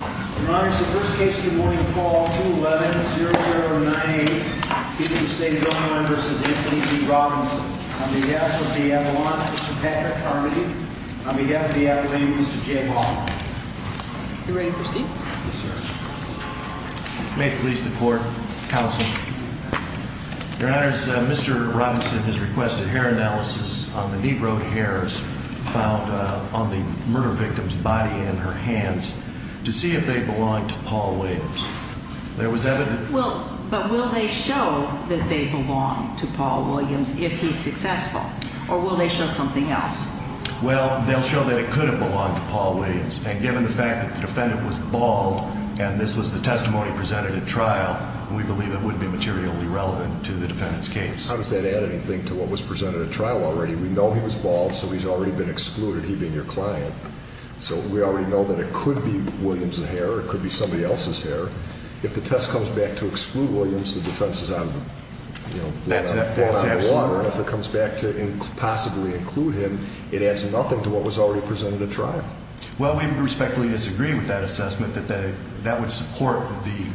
Your Honor, it's the first case of the morning, call 211-0098. Keating State of Illinois v. Anthony G. Robinson. On behalf of the Appellant, Mr. Patrick Carmody. On behalf of the Appellant, Mr. Jay Ball. You ready to proceed? Yes, Your Honor. May it please the Court, Counsel. Your Honor, Mr. Robinson has requested hair analysis on the knee-broke hairs found on the murder victim's body and her hands. To see if they belong to Paul Williams. There was evidence... Well, but will they show that they belong to Paul Williams if he's successful? Or will they show something else? Well, they'll show that it could have belonged to Paul Williams. And given the fact that the defendant was bald, and this was the testimony presented at trial, we believe it would be materially relevant to the defendant's case. How does that add anything to what was presented at trial already? We know he was bald, so he's already been excluded, he being your client. So we already know that it could be Williams' hair or it could be somebody else's hair. If the test comes back to exclude Williams, the defense is on the water. If it comes back to possibly include him, it adds nothing to what was already presented at trial. Well, we respectfully disagree with that assessment. That would support the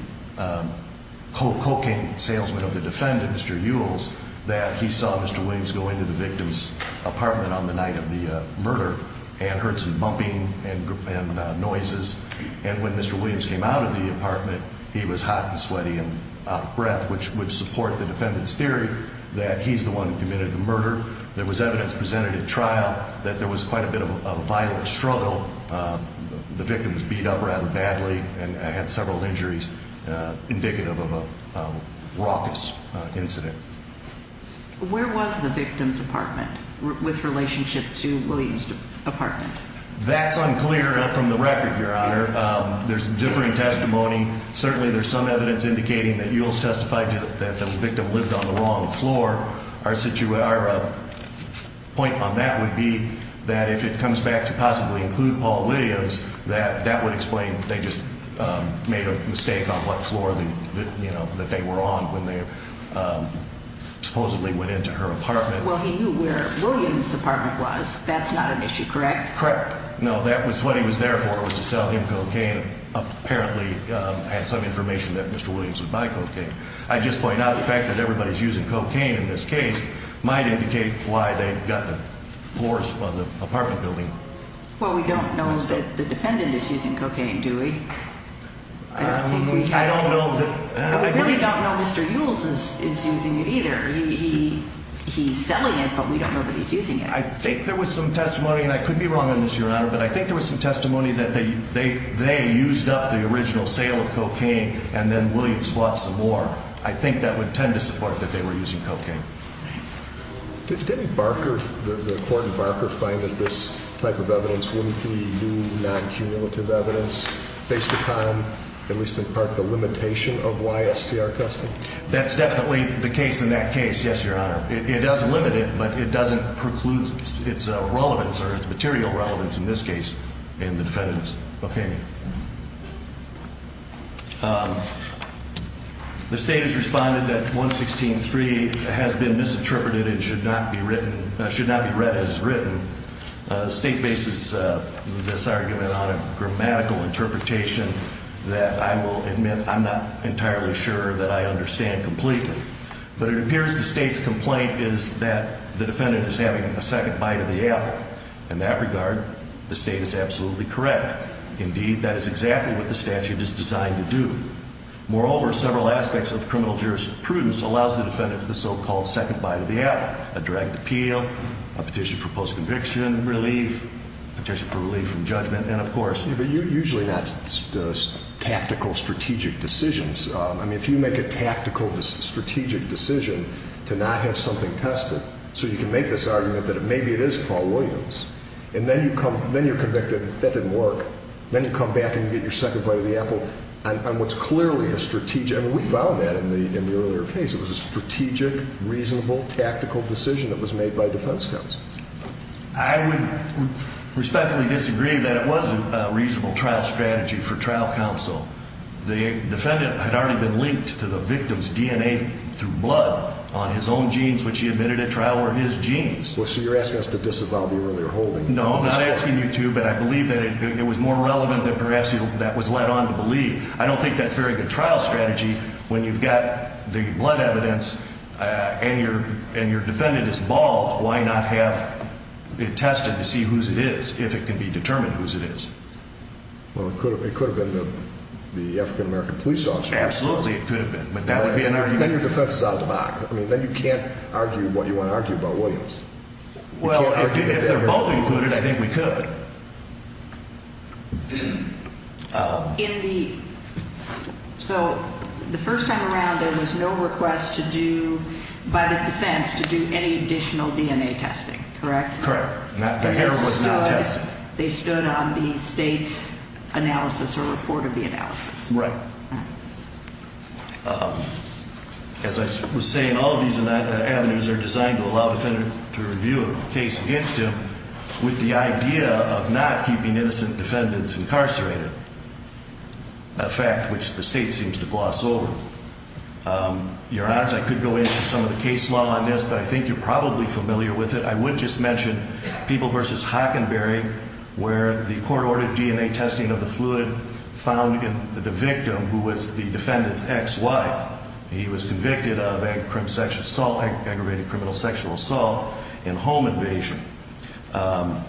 cocaine salesman of the defendant, Mr. Ewells, that he saw Mr. Williams go into the victim's apartment on the night of the murder and heard some bumping and noises. And when Mr. Williams came out of the apartment, he was hot and sweaty and out of breath, which would support the defendant's theory that he's the one who committed the murder. There was evidence presented at trial that there was quite a bit of a violent struggle. The victim was beat up rather badly and had several injuries indicative of a raucous incident. Where was the victim's apartment with relationship to Williams' apartment? That's unclear from the record, Your Honor. There's differing testimony. Certainly there's some evidence indicating that Ewells testified that the victim lived on the wrong floor. Our point on that would be that if it comes back to possibly include Paul Williams, that that would explain they just made a mistake on what floor that they were on when they supposedly went into her apartment. Well, he knew where Williams' apartment was. That's not an issue, correct? Correct. No, that was what he was there for, was to sell him cocaine. Apparently had some information that Mr. Williams would buy cocaine. I just point out the fact that everybody's using cocaine in this case might indicate why they got the floors of the apartment building. What we don't know is that the defendant is using cocaine, do we? I don't know. I really don't know Mr. Ewells is using it either. He's selling it, but we don't know that he's using it. I think there was some testimony, and I could be wrong on this, Your Honor, but I think there was some testimony that they used up the original sale of cocaine and then Williams bought some more. I think that would tend to support that they were using cocaine. Did any barker, the court barker, find that this type of evidence wouldn't be new, non-cumulative evidence based upon, at least in part, the limitation of YSTR testing? That's definitely the case in that case, yes, Your Honor. It does limit it, but it doesn't preclude its relevance or its material relevance in this case in the defendant's opinion. The state has responded that 116.3 has been misinterpreted and should not be read as written. The state bases this argument on a grammatical interpretation that I will admit I'm not entirely sure that I understand completely. But it appears the state's complaint is that the defendant is having a second bite of the apple. In that regard, the state is absolutely correct. Indeed, that is exactly what the statute is designed to do. Moreover, several aspects of criminal jurisprudence allows the defendants the so-called second bite of the apple, a direct appeal, a petition for post-conviction, relief, petition for relief from judgment, and of course— Yeah, but usually that's tactical, strategic decisions. I mean, if you make a tactical, strategic decision to not have something tested, so you can make this argument that maybe it is Paul Williams, and then you're convicted, that didn't work. Then you come back and you get your second bite of the apple on what's clearly a strategic— I mean, we found that in the earlier case. It was a strategic, reasonable, tactical decision that was made by defense counsel. I would respectfully disagree that it was a reasonable trial strategy for trial counsel. The defendant had already been linked to the victim's DNA through blood on his own genes, which he admitted at trial were his genes. Well, so you're asking us to disavow the earlier holding. No, I'm not asking you to, but I believe that it was more relevant than perhaps that was led on to believe. I don't think that's a very good trial strategy when you've got the blood evidence and your defendant is bald. Why not have it tested to see whose it is, if it can be determined whose it is? Well, it could have been the African-American police officer. Absolutely, it could have been, but that would be an argument. Then your defense is out of the box. I mean, then you can't argue what you want to argue about Williams. Well, if they're both included, I think we could. So the first time around, there was no request to do, by the defense, to do any additional DNA testing, correct? Correct. The hair was not tested. They stood on the state's analysis or report of the analysis. Right. As I was saying, all of these avenues are designed to allow the defendant to review a case against him with the idea of not keeping innocent defendants incarcerated, a fact which the state seems to gloss over. Your Honor, I could go into some of the case law on this, but I think you're probably familiar with it. I would just mention People v. Hockenberry, where the court ordered DNA testing of the fluid found in the victim, who was the defendant's ex-wife. He was convicted of aggravated criminal sexual assault and home invasion. Now,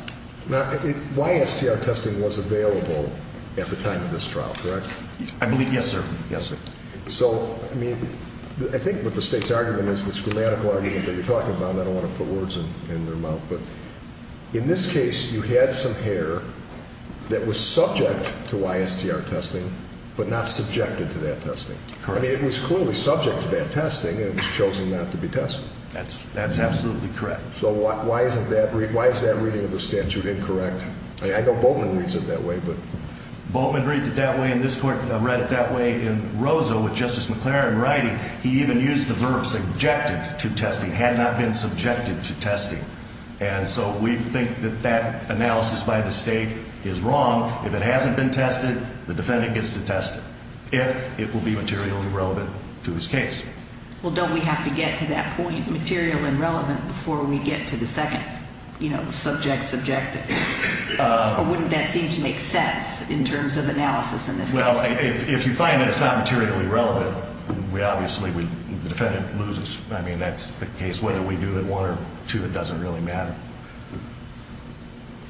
YSTR testing was available at the time of this trial, correct? I believe, yes, sir. So, I mean, I think what the state's argument is, this grammatical argument that you're talking about, and I don't want to put words in their mouth, but in this case, you had some hair that was subject to YSTR testing but not subjected to that testing. Correct. I mean, it was clearly subject to that testing, and it was chosen not to be tested. That's absolutely correct. So why is that reading of the statute incorrect? I mean, I know Boatman reads it that way, but... Boatman reads it that way, and this court read it that way. In Rosa, with Justice McClaren writing, he even used the verb subjected to testing, had not been subjected to testing. And so we think that that analysis by the state is wrong. If it hasn't been tested, the defendant gets to test it, if it will be materially relevant to his case. Well, don't we have to get to that point, material and relevant, before we get to the second, you know, subject, subjective? Or wouldn't that seem to make sense in terms of analysis in this case? Well, if you find that it's not materially relevant, we obviously would, the defendant loses. I mean, that's the case whether we do it one or two, it doesn't really matter.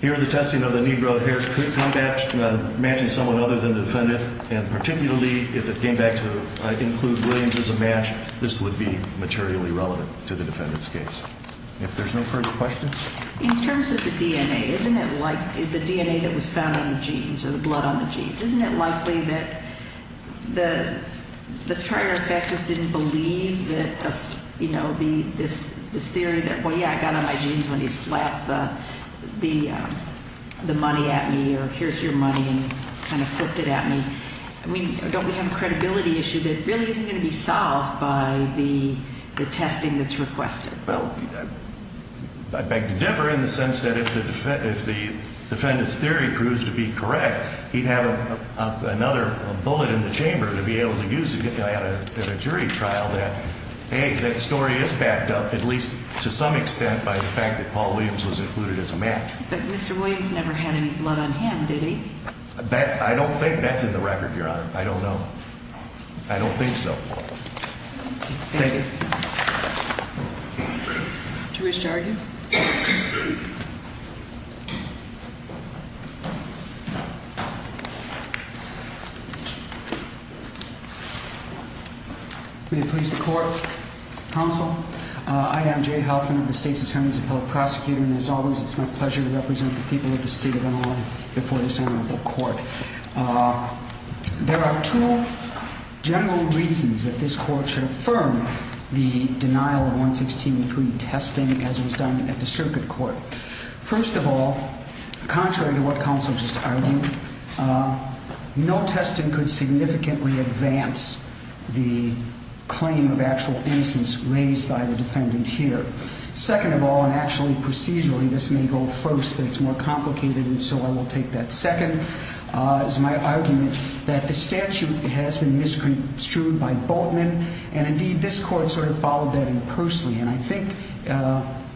Here, the testing of the knee growth hairs could come back matching someone other than the defendant, and particularly if it came back to include Williams as a match, this would be materially relevant to the defendant's case. If there's no further questions? In terms of the DNA, isn't it like, the DNA that was found on the jeans, or the blood on the jeans, isn't it likely that the trier effect just didn't believe that, you know, this theory that, well, yeah, I got on my jeans when he slapped the money at me, or here's your money, and kind of flipped it at me? I mean, don't we have a credibility issue that really isn't going to be solved by the testing that's requested? Well, I beg to differ in the sense that if the defendant's theory proves to be correct, he'd have another bullet in the chamber to be able to use at a jury trial that, hey, that story is backed up, at least to some extent, by the fact that Paul Williams was included as a match. But Mr. Williams never had any blood on him, did he? I don't think that's in the record, Your Honor. I don't know. I don't think so. Thank you. Thank you. Jury's charging? May it please the Court, Counsel? I am Jay Halfman, the State's Attorney's Appellate Prosecutor, and as always it's my pleasure to represent the people of the state of Illinois before this honorable Court. There are two general reasons that this Court should affirm the denial of 116.3 testing as was done at the Circuit Court. First of all, contrary to what Counsel just argued, no testing could significantly advance the claim of actual innocence raised by the defendant here. Second of all, and actually procedurally this may go first, but it's more complicated and so I will take that second. It's my argument that the statute has been misconstrued by Boatman, and indeed this Court sort of followed that impersonally, and I think,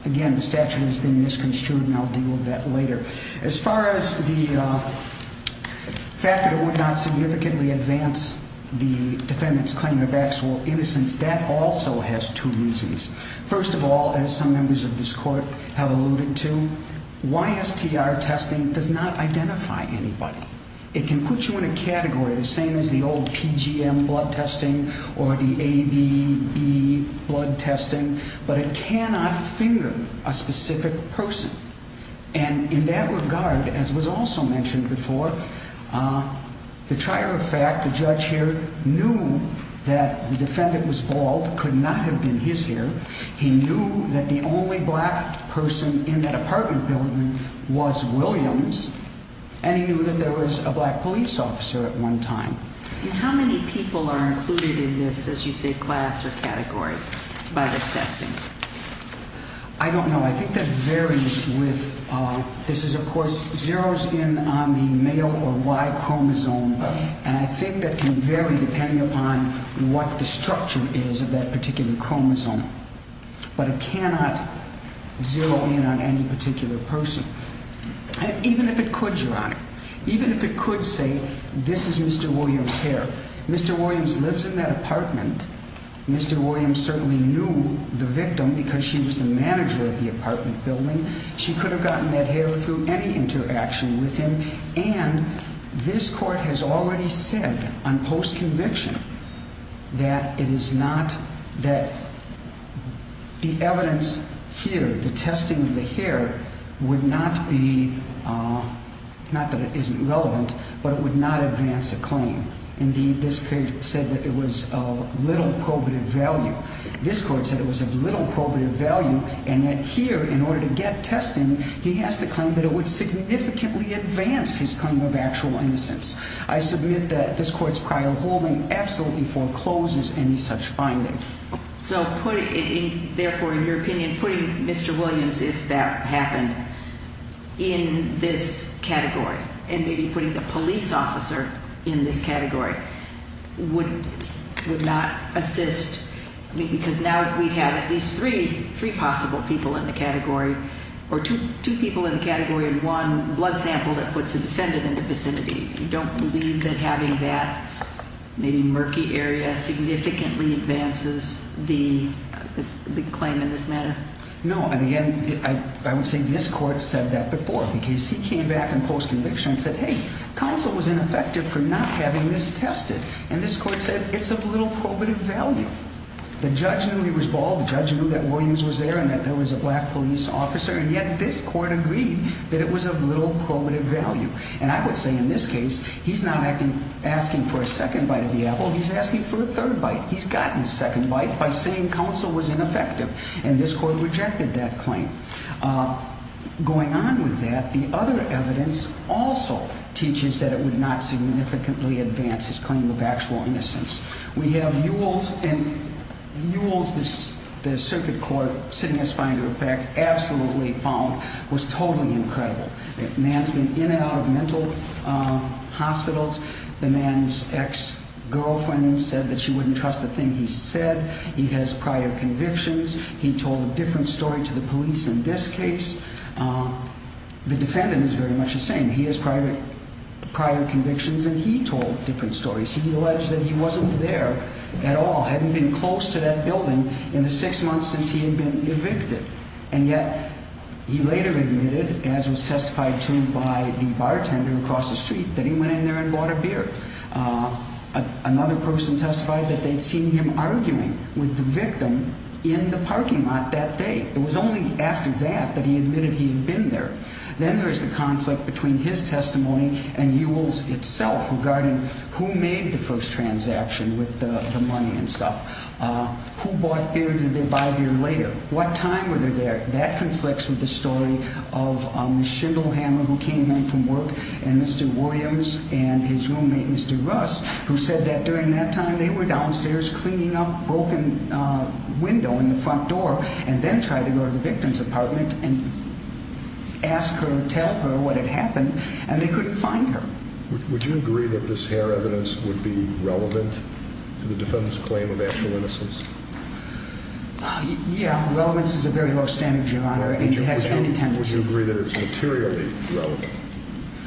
again, the statute has been misconstrued and I'll deal with that later. As far as the fact that it would not significantly advance the defendant's claim of actual innocence, that also has two reasons. First of all, as some members of this Court have alluded to, YSTR testing does not identify anybody. It can put you in a category the same as the old PGM blood testing or the ABB blood testing, but it cannot figure a specific person. And in that regard, as was also mentioned before, the trier of fact, the judge here, knew that the defendant was bald, could not have been his hair. He knew that the only black person in that apartment building was Williams, and he knew that there was a black police officer at one time. And how many people are included in this, as you say, class or category by this testing? I don't know. I think that varies with... It, of course, zeroes in on the male or Y chromosome, and I think that can vary depending upon what the structure is of that particular chromosome. But it cannot zero in on any particular person, even if it could, Your Honor. Even if it could say, this is Mr. Williams' hair. Mr. Williams lives in that apartment. Mr. Williams certainly knew the victim because she was the manager of the apartment building. She could have gotten that hair through any interaction with him. And this court has already said on post-conviction that it is not, that the evidence here, the testing of the hair, would not be, not that it isn't relevant, but it would not advance a claim. Indeed, this case said that it was of little probative value. This court said it was of little probative value, and that here, in order to get testing, he has to claim that it would significantly advance his claim of actual innocence. I submit that this court's prior holding absolutely forecloses any such finding. So, therefore, in your opinion, putting Mr. Williams, if that happened, in this category, would not assist, because now we'd have at least three possible people in the category, or two people in the category and one blood sample that puts the defendant in the vicinity. You don't believe that having that maybe murky area significantly advances the claim in this matter? No. And again, I would say this court said that before, because he came back on post-conviction and said, hey, counsel was ineffective for not having this tested, and this court said it's of little probative value. The judge knew he was bald, the judge knew that Williams was there, and that there was a black police officer, and yet this court agreed that it was of little probative value. And I would say in this case, he's not asking for a second bite of the apple, he's asking for a third bite. He's gotten his second bite by saying counsel was ineffective, and this court rejected that claim. Going on with that, the other evidence also teaches that it would not significantly advance his claim of actual innocence. We have Ewells, and Ewells, the circuit court, sitting as finder of fact, absolutely found, was totally incredible. The man's been in and out of mental hospitals, the man's ex-girlfriend said that she wouldn't trust a thing he said, he has prior convictions, he told a different story to the police in this case, the defendant is very much the same, he has prior convictions and he told different stories. He alleged that he wasn't there at all, hadn't been close to that building in the six months since he had been evicted, and yet he later admitted, as was testified to by the bartender across the street, that he went in there and bought a beer. Another person testified that they'd seen him arguing with the victim in the parking lot that day. It was only after that that he admitted he'd been there. Then there's the conflict between his testimony and Ewells itself regarding who made the first transaction with the money and stuff. Who bought beer, did they buy beer later? What time were they there? That conflicts with the story of Ms. Schindelhammer, who came home from work, and Mr. Williams and his roommate, Mr. Russ, who said that during that time they were downstairs cleaning up a broken window in the front door and then tried to go to the victim's apartment and ask her, tell her what had happened, and they couldn't find her. Would you agree that this hair evidence would be relevant to the defendant's claim of actual innocence? Yeah, relevance is a very low standard, Your Honor, and it has any tendency. Would you agree that it's materially relevant?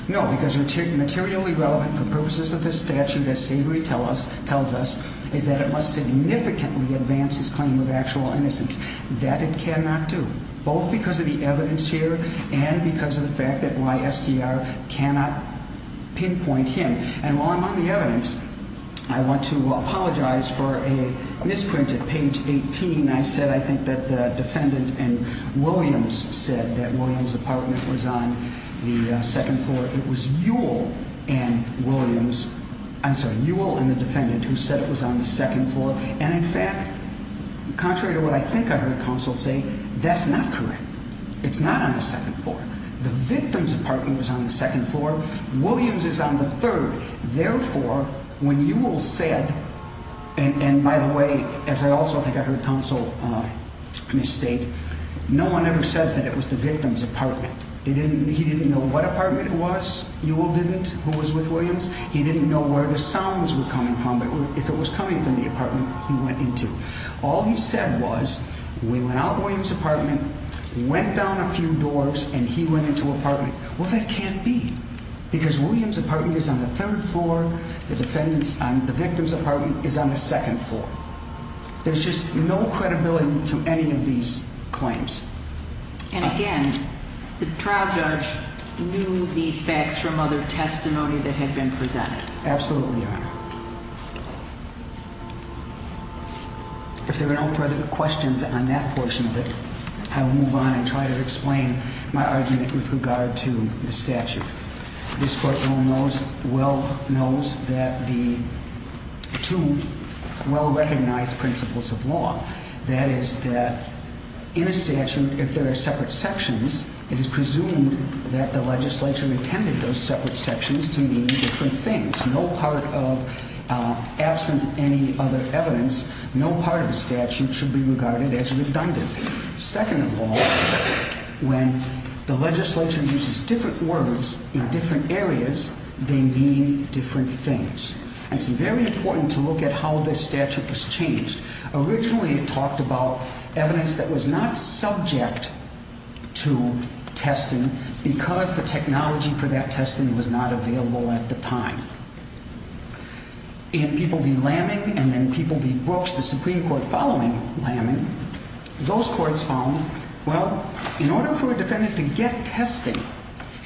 No, because materially relevant for purposes of this statute, as Savory tells us, is that it must significantly advance his claim of actual innocence. That it cannot do, both because of the evidence here and because of the fact that YSDR cannot pinpoint him. And while I'm on the evidence, I want to apologize for a misprint at page 18. I said I think that the defendant and Williams said that Williams' apartment was on the second floor. It was Ewell and Williams, I'm sorry, Ewell and the defendant who said it was on the second floor. And in fact, contrary to what I think I heard counsel say, that's not correct. It's not on the second floor. The victim's apartment was on the second floor. Williams is on the third. Therefore, when Ewell said, and by the way, as I also think I heard counsel misstate, no one ever said that it was the victim's apartment. He didn't know what apartment it was, Ewell didn't, who was with Williams. He didn't know where the sounds were coming from, but if it was coming from the apartment he went into. All he said was, we went out of Williams' apartment, went down a few doors, and he went into apartment. Well, that can't be, because Williams' apartment is on the third floor, the victim's apartment is on the second floor. There's just no credibility to any of these claims. And again, the trial judge knew these facts from other testimony that had been presented. Absolutely, Your Honor. If there are no further questions on that portion of it, I will move on and try to explain my argument with regard to the statute. This Court well knows that the two well-recognized principles of law, that is that in a statute, if there are separate sections, it is presumed that the legislature intended those separate sections to mean different things. No part of, absent any other evidence, no part of the statute should be regarded as redundant. Second of all, when the legislature uses different words in different areas, they mean different things. And it's very important to look at how this statute was changed. Originally, it talked about evidence that was not subject to testing because the technology for that testing was not available at the time. In People v. Laming and then People v. Brooks, the Supreme Court following Laming, those courts found, well, in order for a defendant to get testing,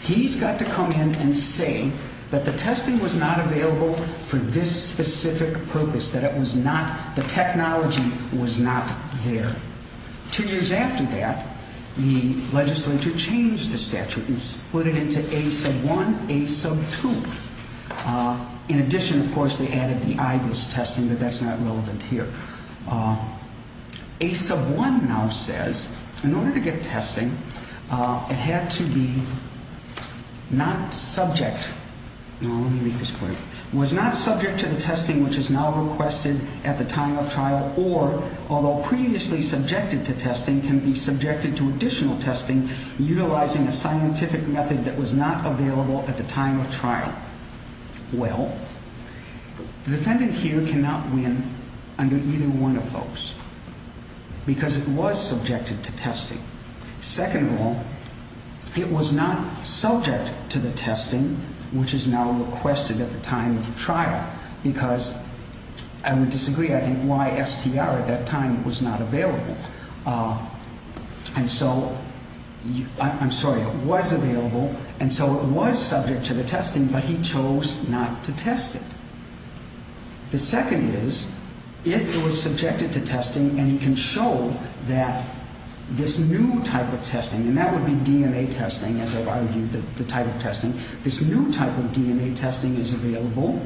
he's got to come in and say that the testing was not available for this specific purpose, that it was not, the technology was not there. Two years after that, the legislature changed the statute and split it into A sub 1, A sub 2. In addition, of course, they added the IBIS testing, but that's not relevant here. A sub 1 now says, in order to get testing, it had to be not subject, no, let me make this clear, was not subject to the testing which is now requested at the time of trial or, although previously subjected to testing, can be subjected to additional testing utilizing a scientific method that was not available at the time of trial. Well, the defendant here cannot win under either one of those because it was subjected to testing. Second of all, it was not subject to the testing which is now requested at the time of trial because I would disagree, I think, why STR at that time was not available. And so, I'm sorry, it was available and so it was subject to the testing but he chose not to test it. The second is, if it was subjected to testing and he can show that this new type of testing, and that would be DNA testing as I've argued, the type of testing, this new type of DNA testing is available,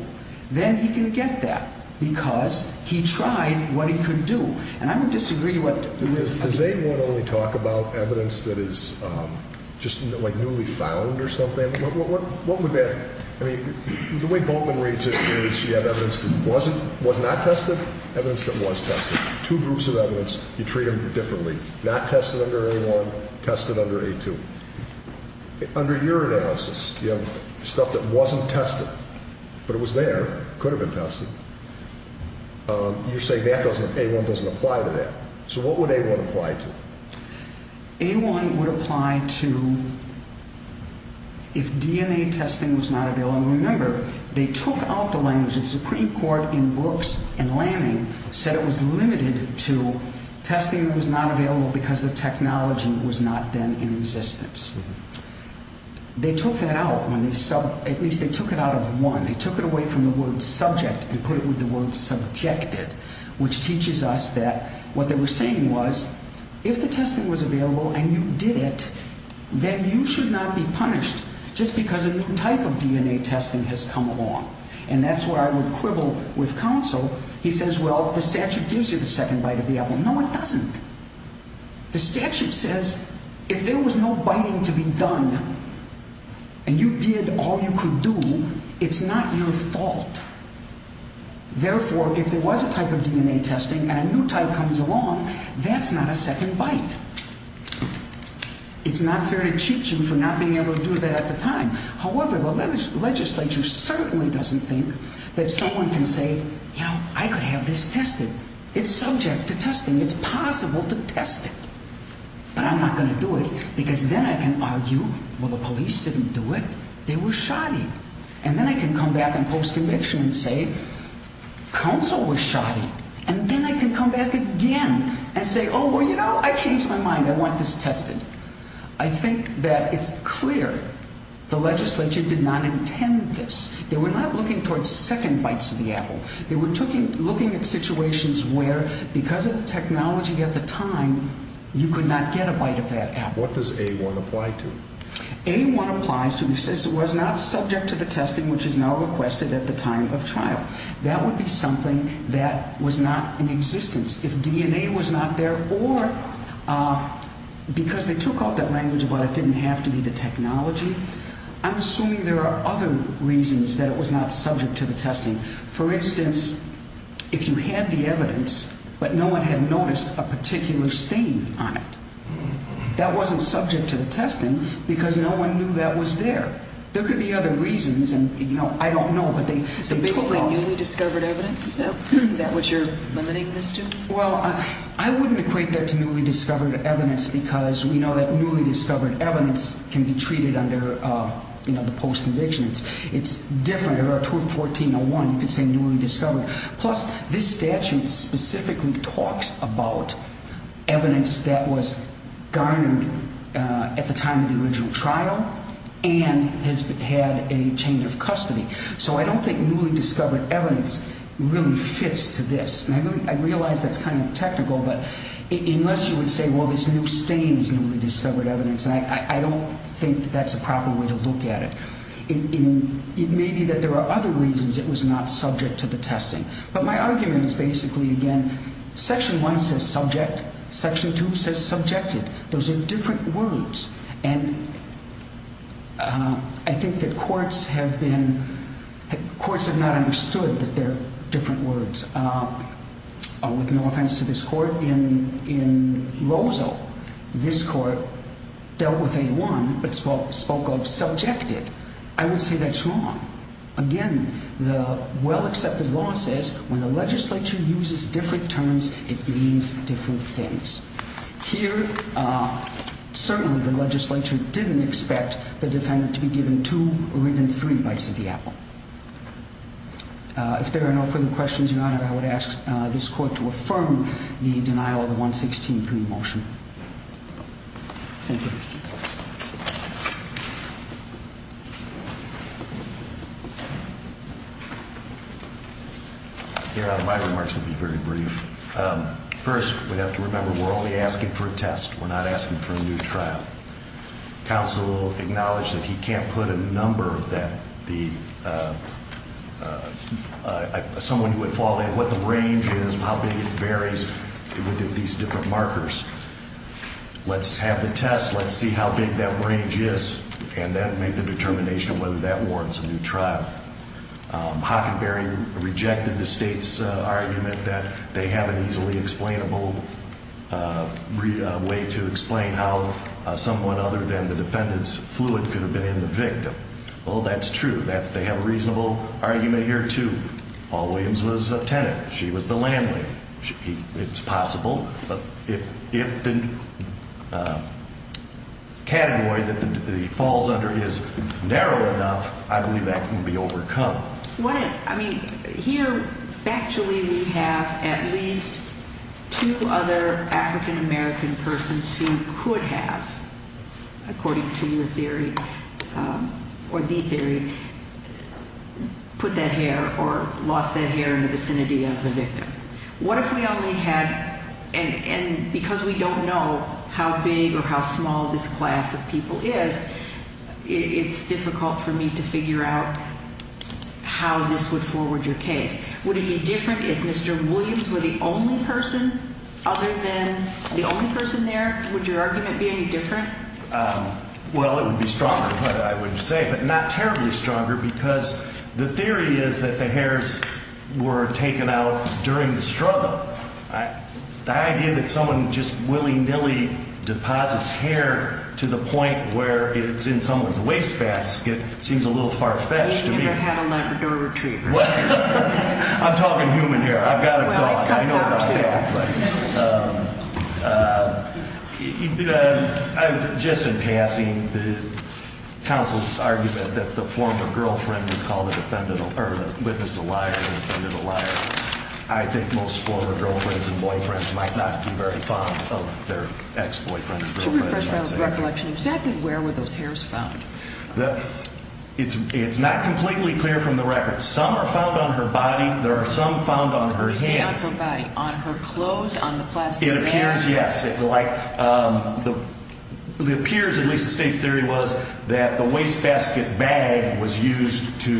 then he can get that because he tried what he could do. And I would disagree what- Does A1 only talk about evidence that is just like newly found or something? What would that, I mean, the way Bolton reads it is you have evidence that was not tested, evidence that was tested. Two groups of evidence, you treat them differently. Not tested under A1, tested under A2. Under your analysis, you have stuff that wasn't tested, but it was there, could have been tested. You're saying A1 doesn't apply to that. So what would A1 apply to? A1 would apply to if DNA testing was not available. And remember, they took out the language. The Supreme Court in Brooks and Lanning said it was limited to testing was not available because the technology was not then in existence. They took that out, at least they took it out of one. They took it away from the word subject and put it with the word subjected, which teaches us that what they were saying was if the testing was available and you did it, then you should not be punished just because a new type of DNA testing has come along. And that's where I would quibble with counsel. He says, well, the statute gives you the second bite of the apple. No, it doesn't. The statute says if there was no biting to be done and you did all you could do, it's not your fault. Therefore, if there was a type of DNA testing and a new type comes along, that's not a second bite. It's not fair to cheat you for not being able to do that at the time. However, the legislature certainly doesn't think that someone can say, you know, I could have this tested. It's subject to testing. It's possible to test it. But I'm not going to do it because then I can argue, well, the police didn't do it. They were shoddy. And then I can come back in post-conviction and say, counsel was shoddy. And then I can come back again and say, oh, well, you know, I changed my mind. I want this tested. I think that it's clear the legislature did not intend this. They were not looking towards second bites of the apple. They were looking at situations where because of the technology at the time, you could not get a bite of that apple. What does A1 apply to? A1 applies to, it says it was not subject to the testing which is now requested at the time of trial. That would be something that was not in existence. If DNA was not there or because they took off that language about it didn't have to be the technology, I'm assuming there are other reasons that it was not subject to the testing. For instance, if you had the evidence but no one had noticed a particular stain on it, that wasn't subject to the testing because no one knew that was there. There could be other reasons and, you know, I don't know, but they took off. So basically newly discovered evidence, is that what you're limiting this to? Well, I wouldn't equate that to newly discovered evidence because we know that newly discovered evidence can be treated under, you know, the post-conviction. It's different. Plus, this statute specifically talks about evidence that was garnered at the time of the original trial and has had a change of custody. So I don't think newly discovered evidence really fits to this. I realize that's kind of technical, but unless you would say, well, this new stain is newly discovered evidence, I don't think that's a proper way to look at it. It may be that there are other reasons it was not subject to the testing. But my argument is basically, again, Section 1 says subject. Section 2 says subjected. Those are different words. And I think that courts have been – courts have not understood that they're different words. With no offense to this court, in Rozo, this court dealt with a 1 but spoke of subjected. I would say that's wrong. Again, the well-accepted law says when the legislature uses different terms, it means different things. Here, certainly the legislature didn't expect the defendant to be given two or even three bites of the apple. If there are no further questions, Your Honor, I would ask this court to affirm the denial of the 116-3 motion. Thank you. Your Honor, my remarks will be very brief. First, we have to remember we're only asking for a test. We're not asking for a new trial. Counsel acknowledged that he can't put a number of that – someone who would fall in – what the range is, how big it varies within these different markers. Let's have the test. Let's see how big that range is. And then make the determination whether that warrants a new trial. Hockenberry rejected the state's argument that they have an easily explainable way to explain how someone other than the defendant's fluid could have been in the victim. Well, that's true. They have a reasonable argument here, too. Paul Williams was a tenant. She was the landlady. It's possible. But if the category that he falls under is narrow enough, I believe that can be overcome. I mean, here factually we have at least two other African-American persons who could have, according to your theory or the theory, put that hair or lost that hair in the vicinity of the victim. What if we only had – and because we don't know how big or how small this class of people is, it's difficult for me to figure out how this would forward your case. Would it be different if Mr. Williams were the only person other than the only person there? Would your argument be any different? Well, it would be stronger, but I wouldn't say. But not terribly stronger because the theory is that the hairs were taken out during the struggle. The idea that someone just willy-nilly deposits hair to the point where it's in someone's wastebasket seems a little far-fetched to me. He would never have a Labrador retreat. I'm talking human hair. I've got a dog. I know about that. Just in passing, the counsel's argument that the former girlfriend would call the defendant – or witness the liar and the defendant a liar, I think most former girlfriends and boyfriends might not be very fond of their ex-boyfriend or girlfriend. To refresh my recollection, exactly where were those hairs found? It's not completely clear from the record. Some are found on her body. There are some found on her hands. On her clothes, on the plastic bag? It appears, yes. It appears, at least the state's theory was, that the wastebasket bag was used to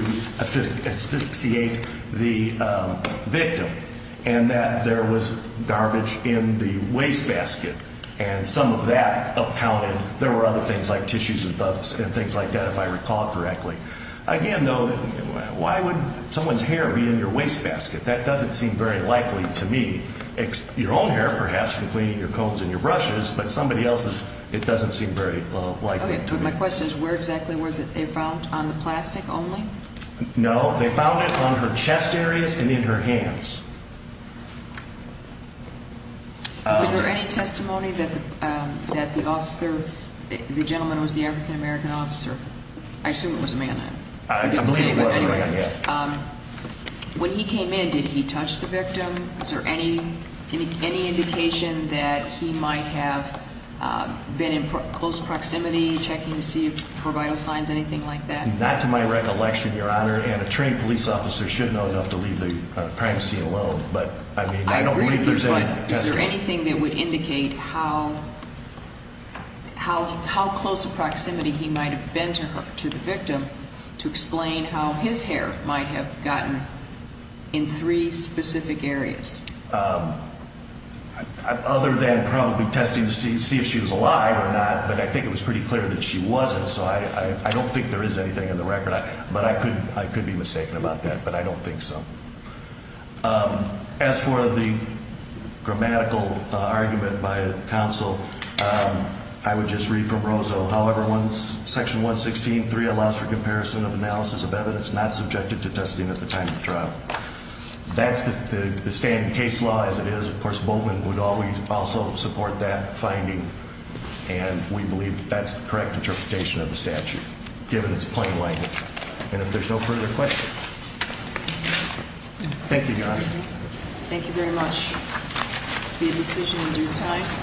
asphyxiate the victim and that there was garbage in the wastebasket. And some of that accounted – there were other things like tissues and things like that, if I recall correctly. Again, though, why would someone's hair be in your wastebasket? That doesn't seem very likely to me. Your own hair, perhaps, between your combs and your brushes, but somebody else's, it doesn't seem very likely. My question is, where exactly was it found? On the plastic only? No. They found it on her chest areas and in her hands. Was there any testimony that the officer – the gentleman who was the African-American officer – I assume it was a man. I believe it was a man, yes. When he came in, did he touch the victim? Is there any indication that he might have been in close proximity, checking to see if there were vital signs, anything like that? Not to my recollection, Your Honor, and a trained police officer should know enough to leave the privacy alone. I agree with you, but is there anything that would indicate how close a proximity he might have been to her, to the victim, to explain how his hair might have gotten in three specific areas? Other than probably testing to see if she was alive or not, but I think it was pretty clear that she wasn't, so I don't think there is anything in the record, but I could be mistaken about that, but I don't think so. As for the grammatical argument by counsel, I would just read from Rozo, however, Section 116.3 allows for comparison of analysis of evidence not subjected to testing at the time of trial. That's the standing case law as it is. Of course, Boatman would also support that finding, and we believe that's the correct interpretation of the statute, given its plain language, and if there's no further questions. Thank you, Your Honor. Thank you very much. It will be a decision in due time.